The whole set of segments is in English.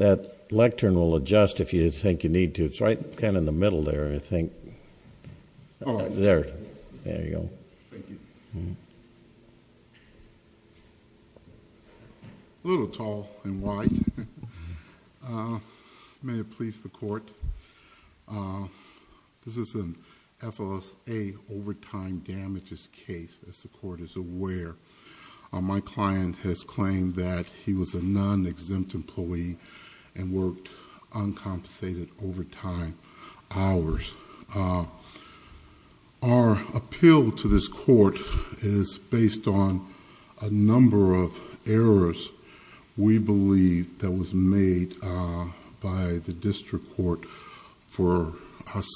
A little tall and wide. May it please the court. This is an FOSA overtime damages case, as the court is aware. My client has claimed that he was a non-exempt employee and worked uncompensated overtime hours. Our appeal to this court is based on a number of errors we believe that was made by the district court for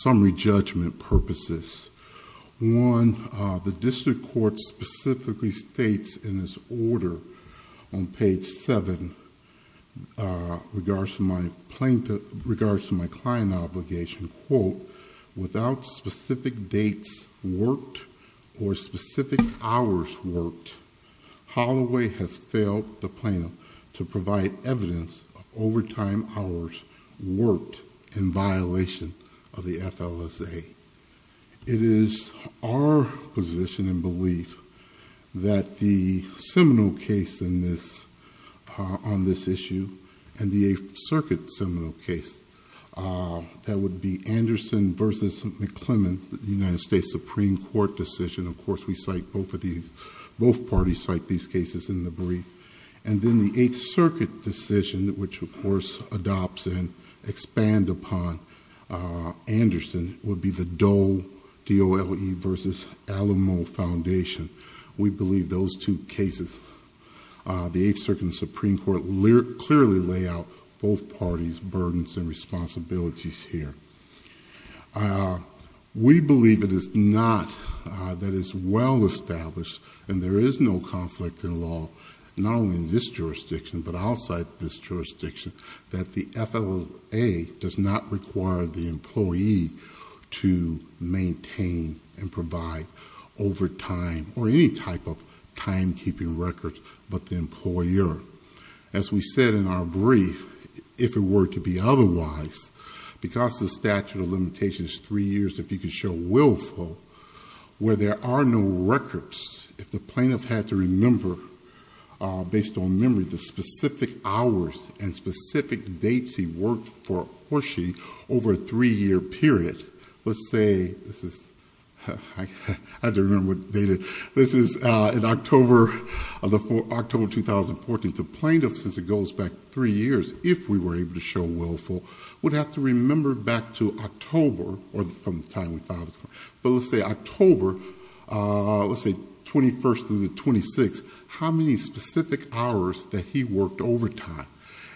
summary judgment purposes. One, the district court specifically states in its order on page 7, regards to my client obligation, quote, without specific dates worked or specific hours worked, Holoway has failed the plaintiff to provide evidence of overtime hours worked in violation of the FLSA. It is our position and belief that the seminal case on this issue and the Eighth Circuit seminal case, that would be Anderson v. McClellan, the United States Supreme Court decision, of course we cite both parties cite these cases in the brief, and then the Eighth Circuit decision, which of course adopts and expands upon Anderson, would be the Doe v. Alamo Foundation. We believe those two cases, the Eighth Circuit and the Supreme Court clearly lay out both parties' burdens and responsibilities here. We believe it is not, that it is well established and there is no conflict in law, not only in this jurisdiction, but outside this jurisdiction, that the FLSA does not require the employee to maintain and provide overtime or any type of timekeeping records but the employer. As we said in our brief, if it were to be otherwise, because the statute of limitations is three years, if you could show willful, where there are no records, if the plaintiff had to remember, based on memory, the specific hours and specific dates he worked for Hershey over a three-year period, let's say, this is, I had to remember what date it is, this is in October of 2014, the plaintiff, since it goes back three years, if we were able to show willful, would have to remember back to October, or from the time we filed the claim, but let's say October, let's say 21st through the 26th, how many specific hours that he worked overtime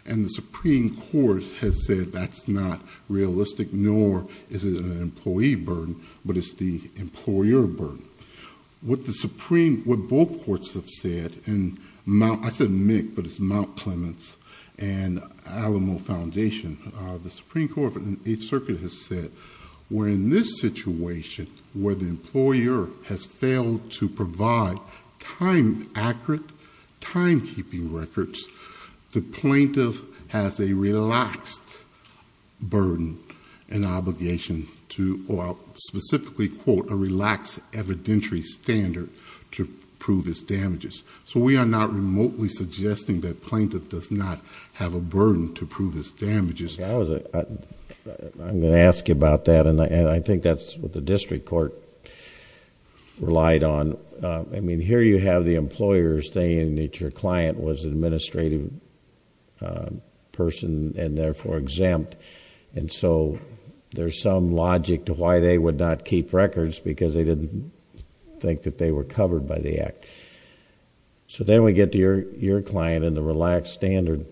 and the Supreme Court has said that is not realistic nor is it an employee burden, but it is the employer burden. What the Supreme, what both courts have said, and I said MCC, but it is Mount Clements and Alamo Foundation, the Supreme Court has said, in a situation where the employer has failed to provide time-accurate, timekeeping records, the plaintiff has a relaxed burden and obligation to, or I'll specifically quote, a relaxed evidentiary standard to prove his damages. So we are not remotely suggesting that plaintiff does not have a burden to prove his damages. I'm going to ask you about that and I think that's what the district court relied on. Here you have the employers saying that your client was an administrative person and therefore exempt and so there's some logic to why they would not keep records because they didn't think that they were covered by the act. Then we get to your client and the relaxed standard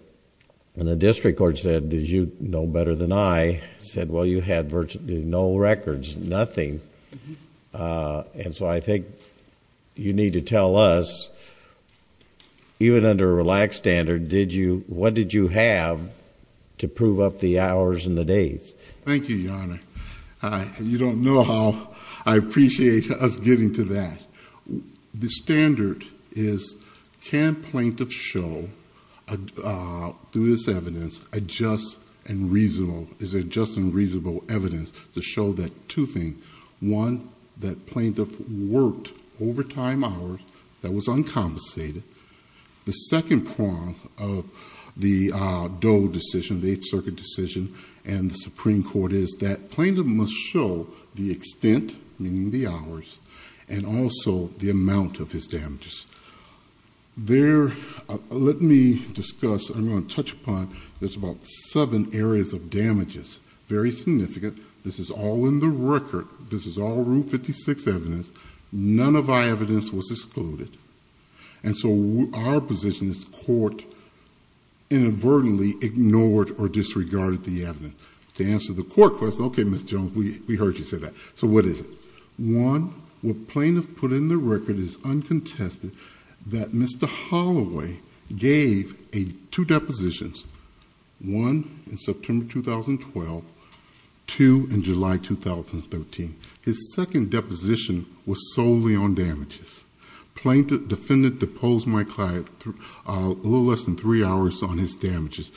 and the district court said, did you know better than I, said well you had virtually no records, nothing, and so I think you need to tell us, even under a relaxed standard, did you, what did you have to prove up the hours and the days? Thank you, Your Honor. You don't know how I appreciate us getting to that. The standard is can plaintiff show, through this evidence, a just and reasonable, is it just and reasonable evidence to show that two things. One, that plaintiff worked overtime hours that was uncompensated. The second prong of the Doe decision, the Eighth Circuit decision and the Supreme Court is that plaintiff must show the extent, meaning the hours, and also the amount of his damages. Let me discuss, I'm going to touch upon, there's about seven areas of damages, very significant. This is all in the record. This is all Route 56 evidence. None of our evidence was excluded and so our position is the court inadvertently ignored or disregarded the evidence. To answer the court question, okay, Ms. Jones, we heard you say that, so what is it? One, what plaintiff put in the record is uncontested that Mr. Holloway gave two depositions, one in September 2012, two in July 2013. His second deposition was solely on damages. Plaintiff, defendant deposed my client a little less than three hours on his damages.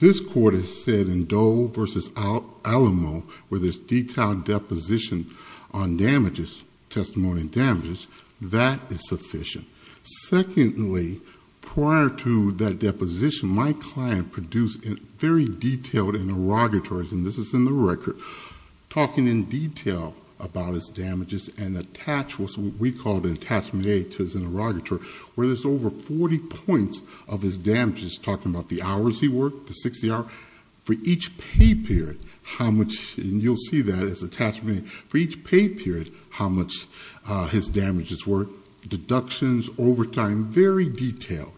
This court has said in Doe versus Alamo, where there's detailed deposition on damages, testimony on damages, that is sufficient. Secondly, prior to that deposition, my client produced very detailed interrogatories, and this is in the record, talking in detail about his damages and attached what we call an attachment aid to his interrogatory, where there's over 40 points of his damages, talking about the hours he worked, the 60 hours. For each pay period, how much, and you'll see that as attachment aid, for each pay period, how much his damages were, deductions, overtime, very detailed.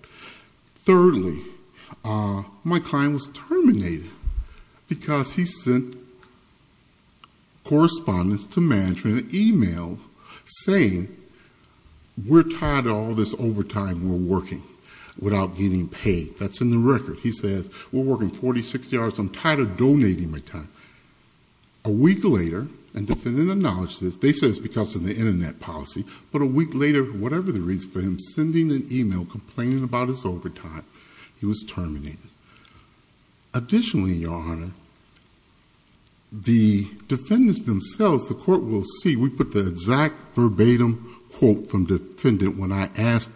Thirdly, my client was terminated because he sent correspondence to management, an email saying, we're tired of all this overtime, we're working without getting paid. That's in the record. He says, we're working 40, 60 hours, I'm tired of donating my time. A week later, and defendant acknowledged this, they said it's because of the internet policy, but a week later, whatever the reason for him sending an email complaining about his overtime, he was terminated. Additionally, Your Honor, the defendants themselves, the court will see, we put the exact verbatim quote from defendant when I asked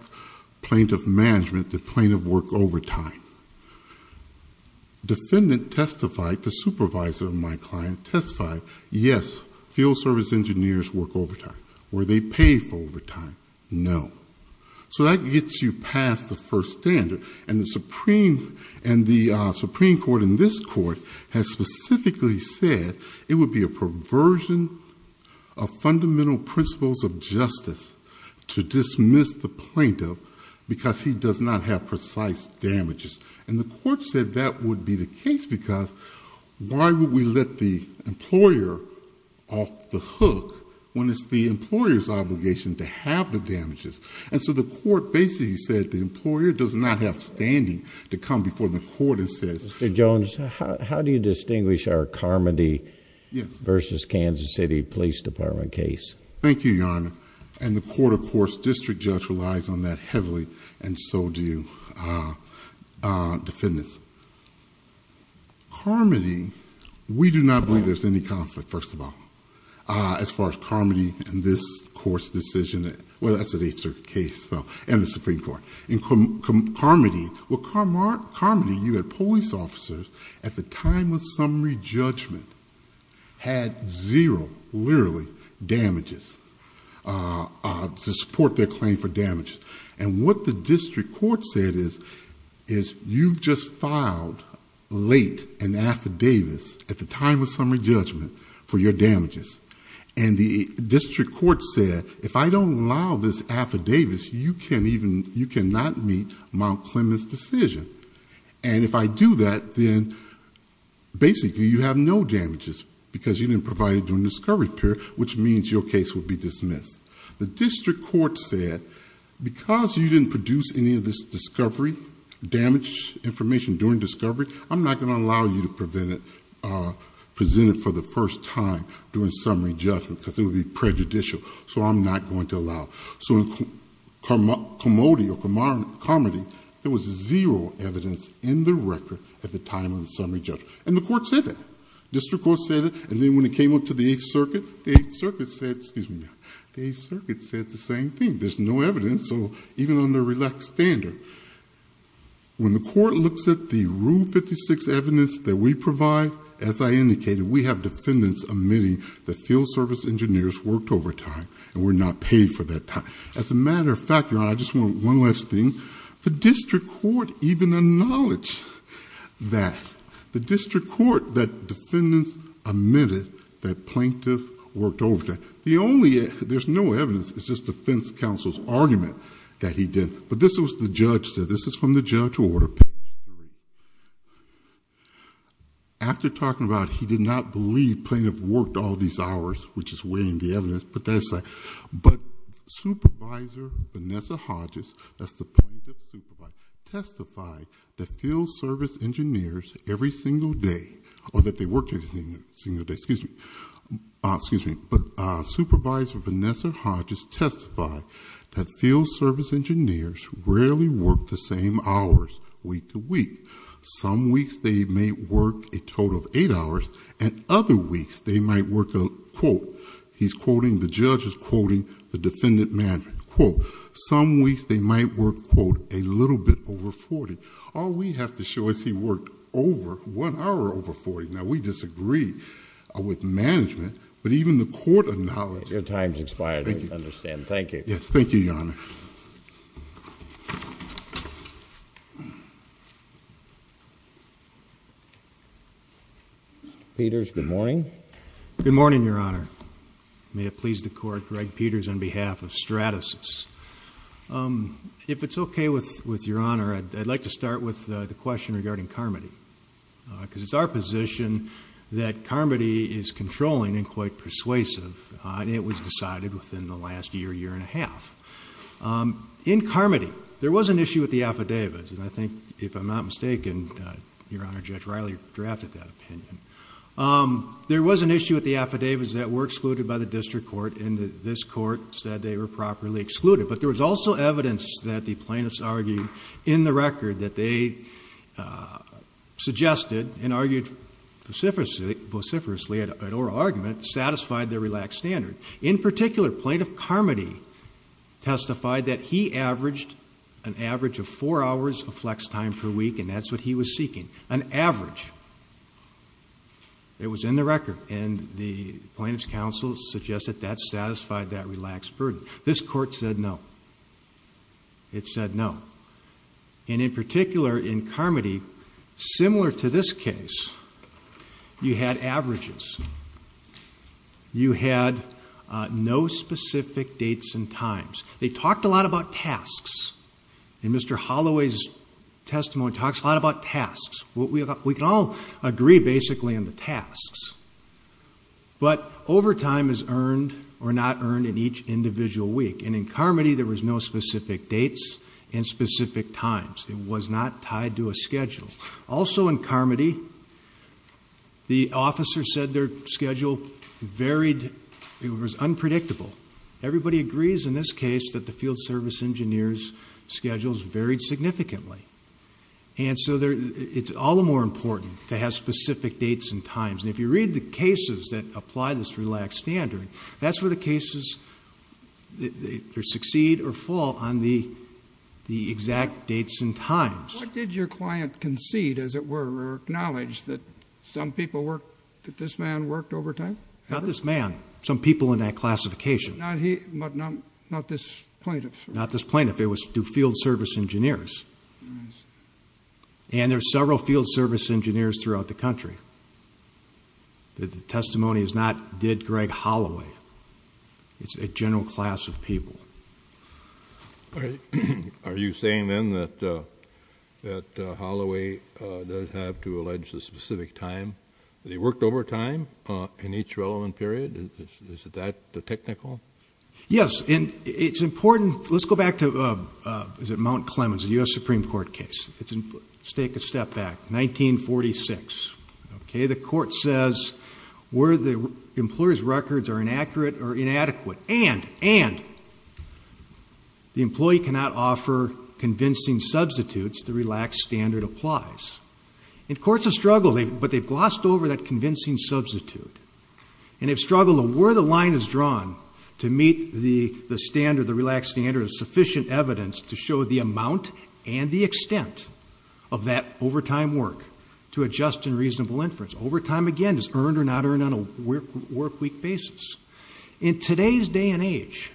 plaintiff management, did plaintiff work overtime? Defendant testified, the supervisor of my client testified, yes, field service engineers work overtime. Were they paid for overtime? No. So that gets you past the first standard, and the Supreme Court in this court has specifically said it would be a perversion of fundamental principles of justice to dismiss the plaintiff because he does not have precise damages. And the court said that would be the case because why would we let the employer off the hook when it's the employer's obligation to have the damages? And so the court basically said the employer does not have standing to come before the court and say... Mr. Jones, how do you distinguish our Carmody versus Kansas City Police Department case? Thank you, Your Honor. And the court, of course, district judge relies on that heavily and so do defendants. Carmody, we do not believe there's any conflict, first of all, as far as Carmody and this court's decision. Well, that's an eight-circuit case and the Supreme Court. In Carmody, well, Carmody, you had police officers at the time of summary judgment had zero, literally, damages to support their claim for damages. And what the district court said is, you've just filed late an affidavit at the time of summary judgment for your damages. And the district court said, if I don't allow this affidavit, you cannot meet Mount Clemens' decision. And if I do that, then basically you have no damages because you didn't provide it during the discovery period, which means your case would be dismissed. The district court said, because you didn't produce any of this discovery, damaged information during discovery, I'm not going to allow you to present it for the first time during summary judgment because it would be prejudicial. So I'm not going to allow it. So in Carmody, there was zero evidence in the record at the time of the summary judgment. And the court said that. District court said it. And then when it came up to the Eighth Circuit, the Eighth Circuit said, excuse me, the Eighth Circuit said the same thing. There's no evidence. So even under relaxed standard, when the court looks at the Rule 56 evidence that we provide, as I indicated, we have defendants admitting that field service engineers worked overtime and were not paid for that time. As a matter of fact, Your Honor, I just want one last thing. The district court even acknowledged that. The district court, that defendants admitted that plaintiff worked overtime. The only, there's no evidence, it's just defense counsel's argument that he did. But this was the judge said. This is from the judge's order. After talking about he did not believe plaintiff worked all these hours, which is weighing the evidence, but that's fine. But Supervisor Vanessa Hodges, that's the plaintiff's supervisor, testified that field service engineers every single day, or that they worked every single day, excuse me, but Supervisor Vanessa Hodges testified that field service engineers rarely worked the same hours week to week. Some weeks they may work a total of eight hours, and other weeks they might work a, quote, he's quoting, the judge is quoting the defendant management, quote, some weeks they might work, quote, a little bit over 40. All we have to show is he worked over, one hour over 40. Now, we disagree with management, but even the court acknowledged... Your time's expired, I understand. Thank you. Yes, thank you, Your Honor. Mr. Peters, good morning. Good morning, Your Honor. May it please the Court, Greg Peters on behalf of Stratasys. If it's okay with Your Honor, I'd like to start with the question regarding Carmody. Because it's our position that Carmody is controlling and quite persuasive, and it was decided within the last year, year and a half. In Carmody, there was an issue with the affidavits, and I think, if I'm not mistaken, Your Honor, Judge Riley drafted that opinion. There was an issue with the affidavits that were excluded by the district court, and this court said they were properly excluded. But there was also evidence that the plaintiffs argued in the record that they suggested and argued vociferously at oral argument satisfied their relaxed standard. In particular, Plaintiff Carmody testified that he averaged an average of four hours of flex time per week, and that's what he was seeking, an average. It was in the record, and the Plaintiff's counsel suggested that satisfied that relaxed burden. This court said no. It said no. And in particular, in Carmody, similar to this case, you had averages. You had no specific dates and times. They talked a lot about tasks, and Mr. Holloway's testimony talks a lot about tasks. We can all agree, basically, on the tasks. But overtime is earned or not earned in each individual week, and in Carmody, there was no specific dates and specific times. It was not tied to a schedule. Also, in Carmody, the officer said their schedule varied. It was unpredictable. Everybody agrees in this case that the field service engineer's schedules varied significantly. And so it's all the more important to have specific dates and times. And if you read the cases that apply this relaxed standard, that's where the cases succeed or fall on the exact dates and times. What did your client concede, as it were, or acknowledge, that some people worked, that this man worked overtime? Not this man. Some people in that classification. Not this Plaintiff? Not this Plaintiff. It was field service engineers. And there are several field service engineers throughout the country. The testimony is not, did Greg Holloway? It's a general class of people. All right. Are you saying, then, that Holloway does have to allege the specific time that he worked overtime in each relevant period? Is that technical? Yes. And it's important. Let's go back to, is it Mount Clemens, a U.S. Supreme Court case. Let's take a step back. 1946. Okay? The court says where the employer's records are inaccurate or inadequate, and the employee cannot offer convincing substitutes, the relaxed standard applies. In courts of struggle, but they've glossed over that convincing substitute. And they've struggled to where the line is drawn to meet the standard, the relaxed standard of sufficient evidence to show the amount and the extent of that overtime work to adjust in reasonable inference. Overtime, again, is earned or not earned on a workweek basis. In today's day and age,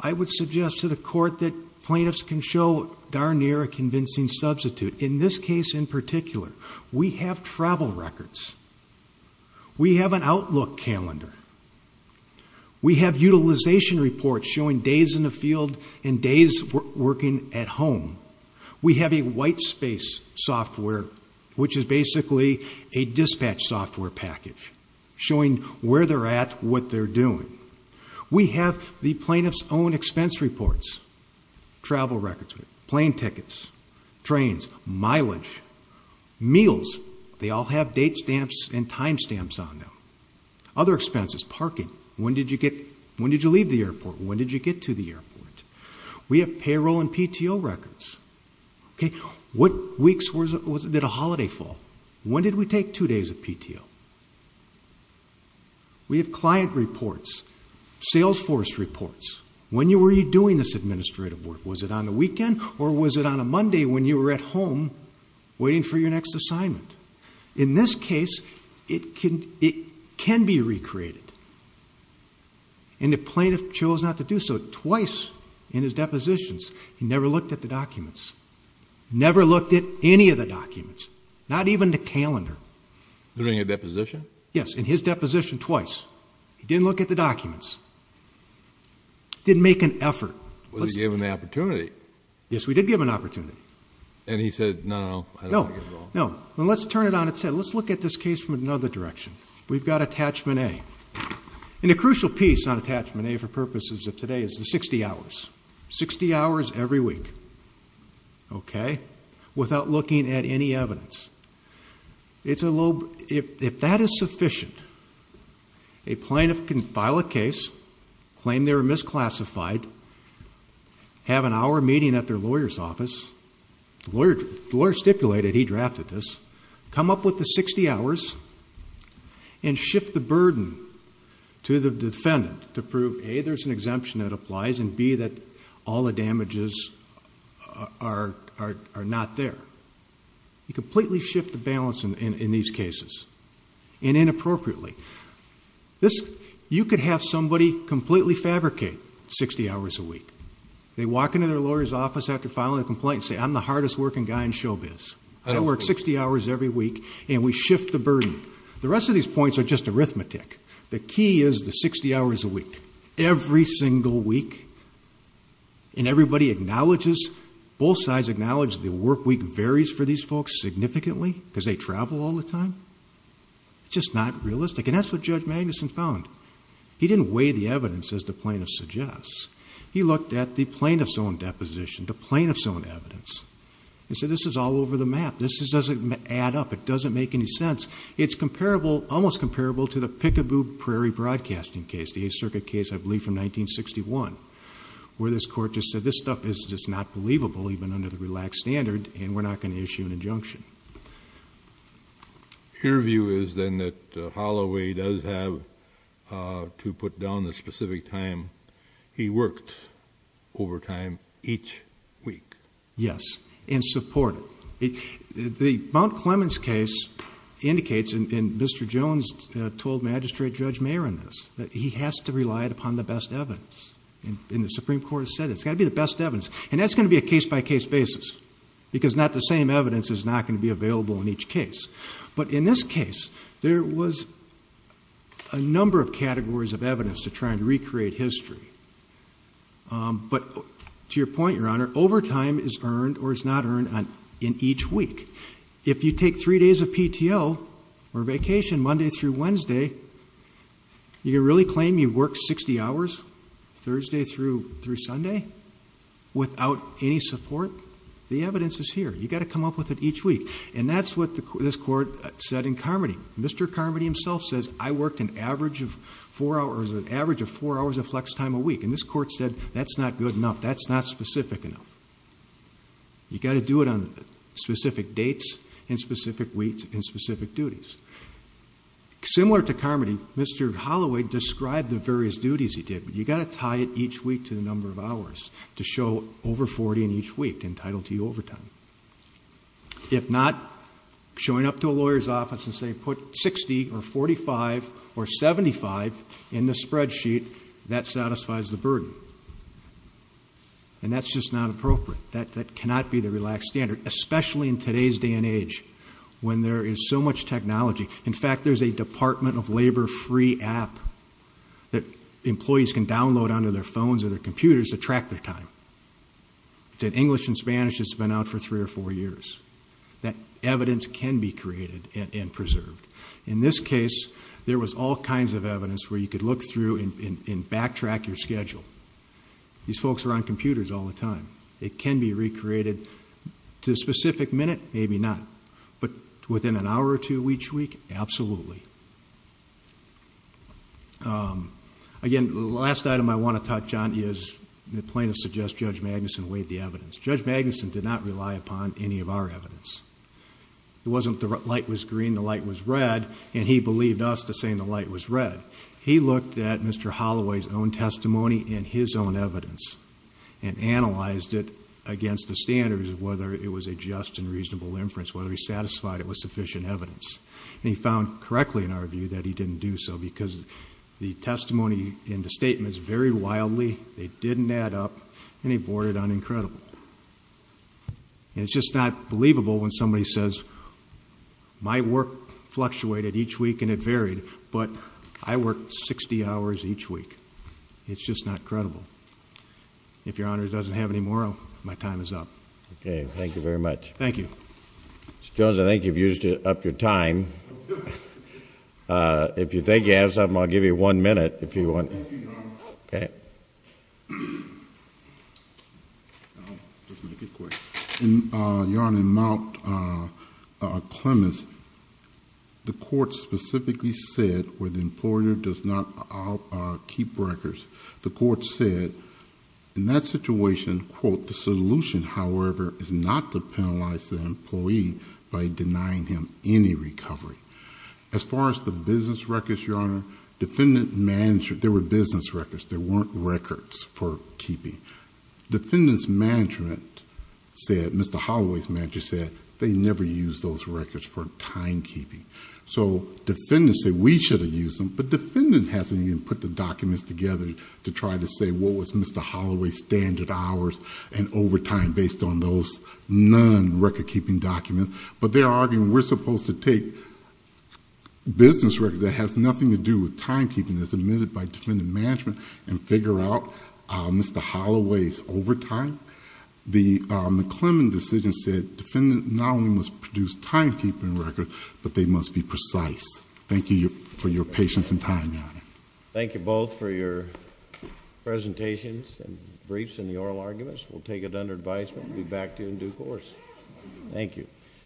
I would suggest to the court that plaintiffs can show darn near a convincing substitute. In this case, in particular, we have travel records. We have an outlook calendar. We have utilization reports showing days in the field and days working at home. We have a white space software, which is basically a dispatch software package showing where they're at, what they're doing. We have the plaintiff's own expense reports, travel records, plane tickets, trains, mileage, meals. They all have date stamps and time stamps on them. Other expenses, parking. When did you get, when did you leave the airport? When did you have payroll and PTO records? What weeks, was it a holiday fall? When did we take two days of PTO? We have client reports, sales force reports. When were you doing this administrative work? Was it on a weekend or was it on a Monday when you were at home waiting for your next assignment? In this case, it can be recreated. And the plaintiff chose not to do so twice in his depositions. He never looked at the documents. Never looked at any of the documents, not even the calendar. During a deposition? Yes, in his deposition twice. He didn't look at the documents. Didn't make an effort. Wasn't he given the opportunity? Yes, we did give him an opportunity. And he said, no, I don't like it at all? No, no. Well, let's turn it on its head. Let's look at this case from another direction. We've got Attachment A. And the crucial piece on Attachment A for purposes of today is the 60 hours. 60 hours every week. Okay? Without looking at any evidence. If that is sufficient, a plaintiff can file a case, claim they were misclassified, have an hour meeting at their lawyer's office. The lawyer stipulated he drafted this. Come up with the 60 hours and shift the burden to the defendant to prove, A, there's an exemption that applies, and B, that all the damages are not there. You completely shift the balance in these cases and inappropriately. You could have somebody completely fabricate 60 hours a week. They walk into their lawyer's office after filing a complaint and say, I'm the hardest working guy in showbiz. I work 60 hours every week. And we shift the burden. The rest of these points are just arithmetic. The key is the 60 hours a week. Every single week. And everybody acknowledges, both sides acknowledge, the work week varies for these folks significantly because they travel all the time. It's just not realistic. And that's what Judge Magnuson found. He didn't weigh the evidence as the plaintiff suggests. He looked at the plaintiff's own deposition, the plaintiff's own evidence. He said, this is all over the map. This doesn't add up. It doesn't make any sense. It's comparable, almost comparable, to the Pickaboo Prairie Broadcasting case, the 8th Circuit case, I believe from 1961, where this court just said, this stuff is just not believable, even under the relaxed standard, and we're not going to issue an injunction. Your view is then that Holloway does have to put down the specific time he worked overtime each week? Yes. And support it. The Mount Clemens case indicates, and Mr. Jones told Magistrate Judge Mayer in this, that he has to rely upon the best evidence. And the Supreme Court has said it's got to be the best evidence. And that's going to be a case-by-case basis. Because not the same evidence is not going to be available in each case. But in this case, there was a number of categories of evidence to try and recreate history. But to your point, Your time is earned, or is not earned, in each week. If you take three days of PTO, or vacation, Monday through Wednesday, you can really claim you worked 60 hours, Thursday through Sunday, without any support? The evidence is here. You've got to come up with it each week. And that's what this court said in Carmody. Mr. Carmody himself says, I worked an average of four hours, an average of four hours of flex time a week. And this court said, that's not good enough. That's not specific enough. You've got to do it on specific dates, and specific weeks, and specific duties. Similar to Carmody, Mr. Holloway described the various duties he did. But you've got to tie it each week to the number of hours, to show over 40 in each week, entitled to overtime. If not, showing up to a lawyer's office and saying, put 60, or 45, or 75 in the spreadsheet, that satisfies the burden. And that's just not appropriate. That cannot be the relaxed standard, especially in today's day and age, when there is so much technology. In fact, there's a Department of Labor free app that employees can download onto their phones or their computers to track their time. It's in English and Spanish. It's been out for three or four years. That evidence can be preserved. In this case, there was all kinds of evidence where you could look through and backtrack your schedule. These folks are on computers all the time. It can be recreated to a specific minute, maybe not. But within an hour or two each week, absolutely. Again, the last item I want to touch on is, the plaintiff suggests Judge Magnuson weighed the evidence. Judge Magnuson did not rely upon any of our evidence. It wasn't the light was green, the light was red, and he believed us to saying the light was red. He looked at Mr. Holloway's own testimony and his own evidence and analyzed it against the standards of whether it was a just and reasonable inference, whether he satisfied it with sufficient evidence. And he found correctly, in our view, that he didn't do so, because the testimony and the statements varied wildly, they didn't add up, and he boarded on incredible. It's just not believable when somebody says, my work fluctuated each week and it varied, but I worked 60 hours each week. It's just not credible. If your Honor doesn't have any more, my time is up. Okay. Thank you very much. Thank you. Mr. Jones, I think you've used up your time. If you think you have something, I'll give you one minute if you want. Thank you, Your Honor. Okay. I'll just make it quick. Your Honor, in Mount Clemens, the court specifically said, where the employer does not keep records, the court said, in that situation, quote, the solution, however, is not to penalize the employee by denying him any recovery. As far as the business records, there weren't records for keeping. Defendant's management said, Mr. Holloway's manager said, they never use those records for timekeeping. Defendants say, we should have used them, but defendant hasn't even put the documents together to try to say what was Mr. Holloway's standard hours and overtime based on those non-record keeping documents, but they're arguing we're supposed to take business records that has nothing to do with defendant management and figure out Mr. Holloway's overtime. The Mount Clemens decision said, defendant not only must produce timekeeping records, but they must be precise. Thank you for your patience and time, Your Honor. Thank you both for your presentations and briefs and the oral arguments. We'll take it under advisement. We'll be back to you in due course. Thank you.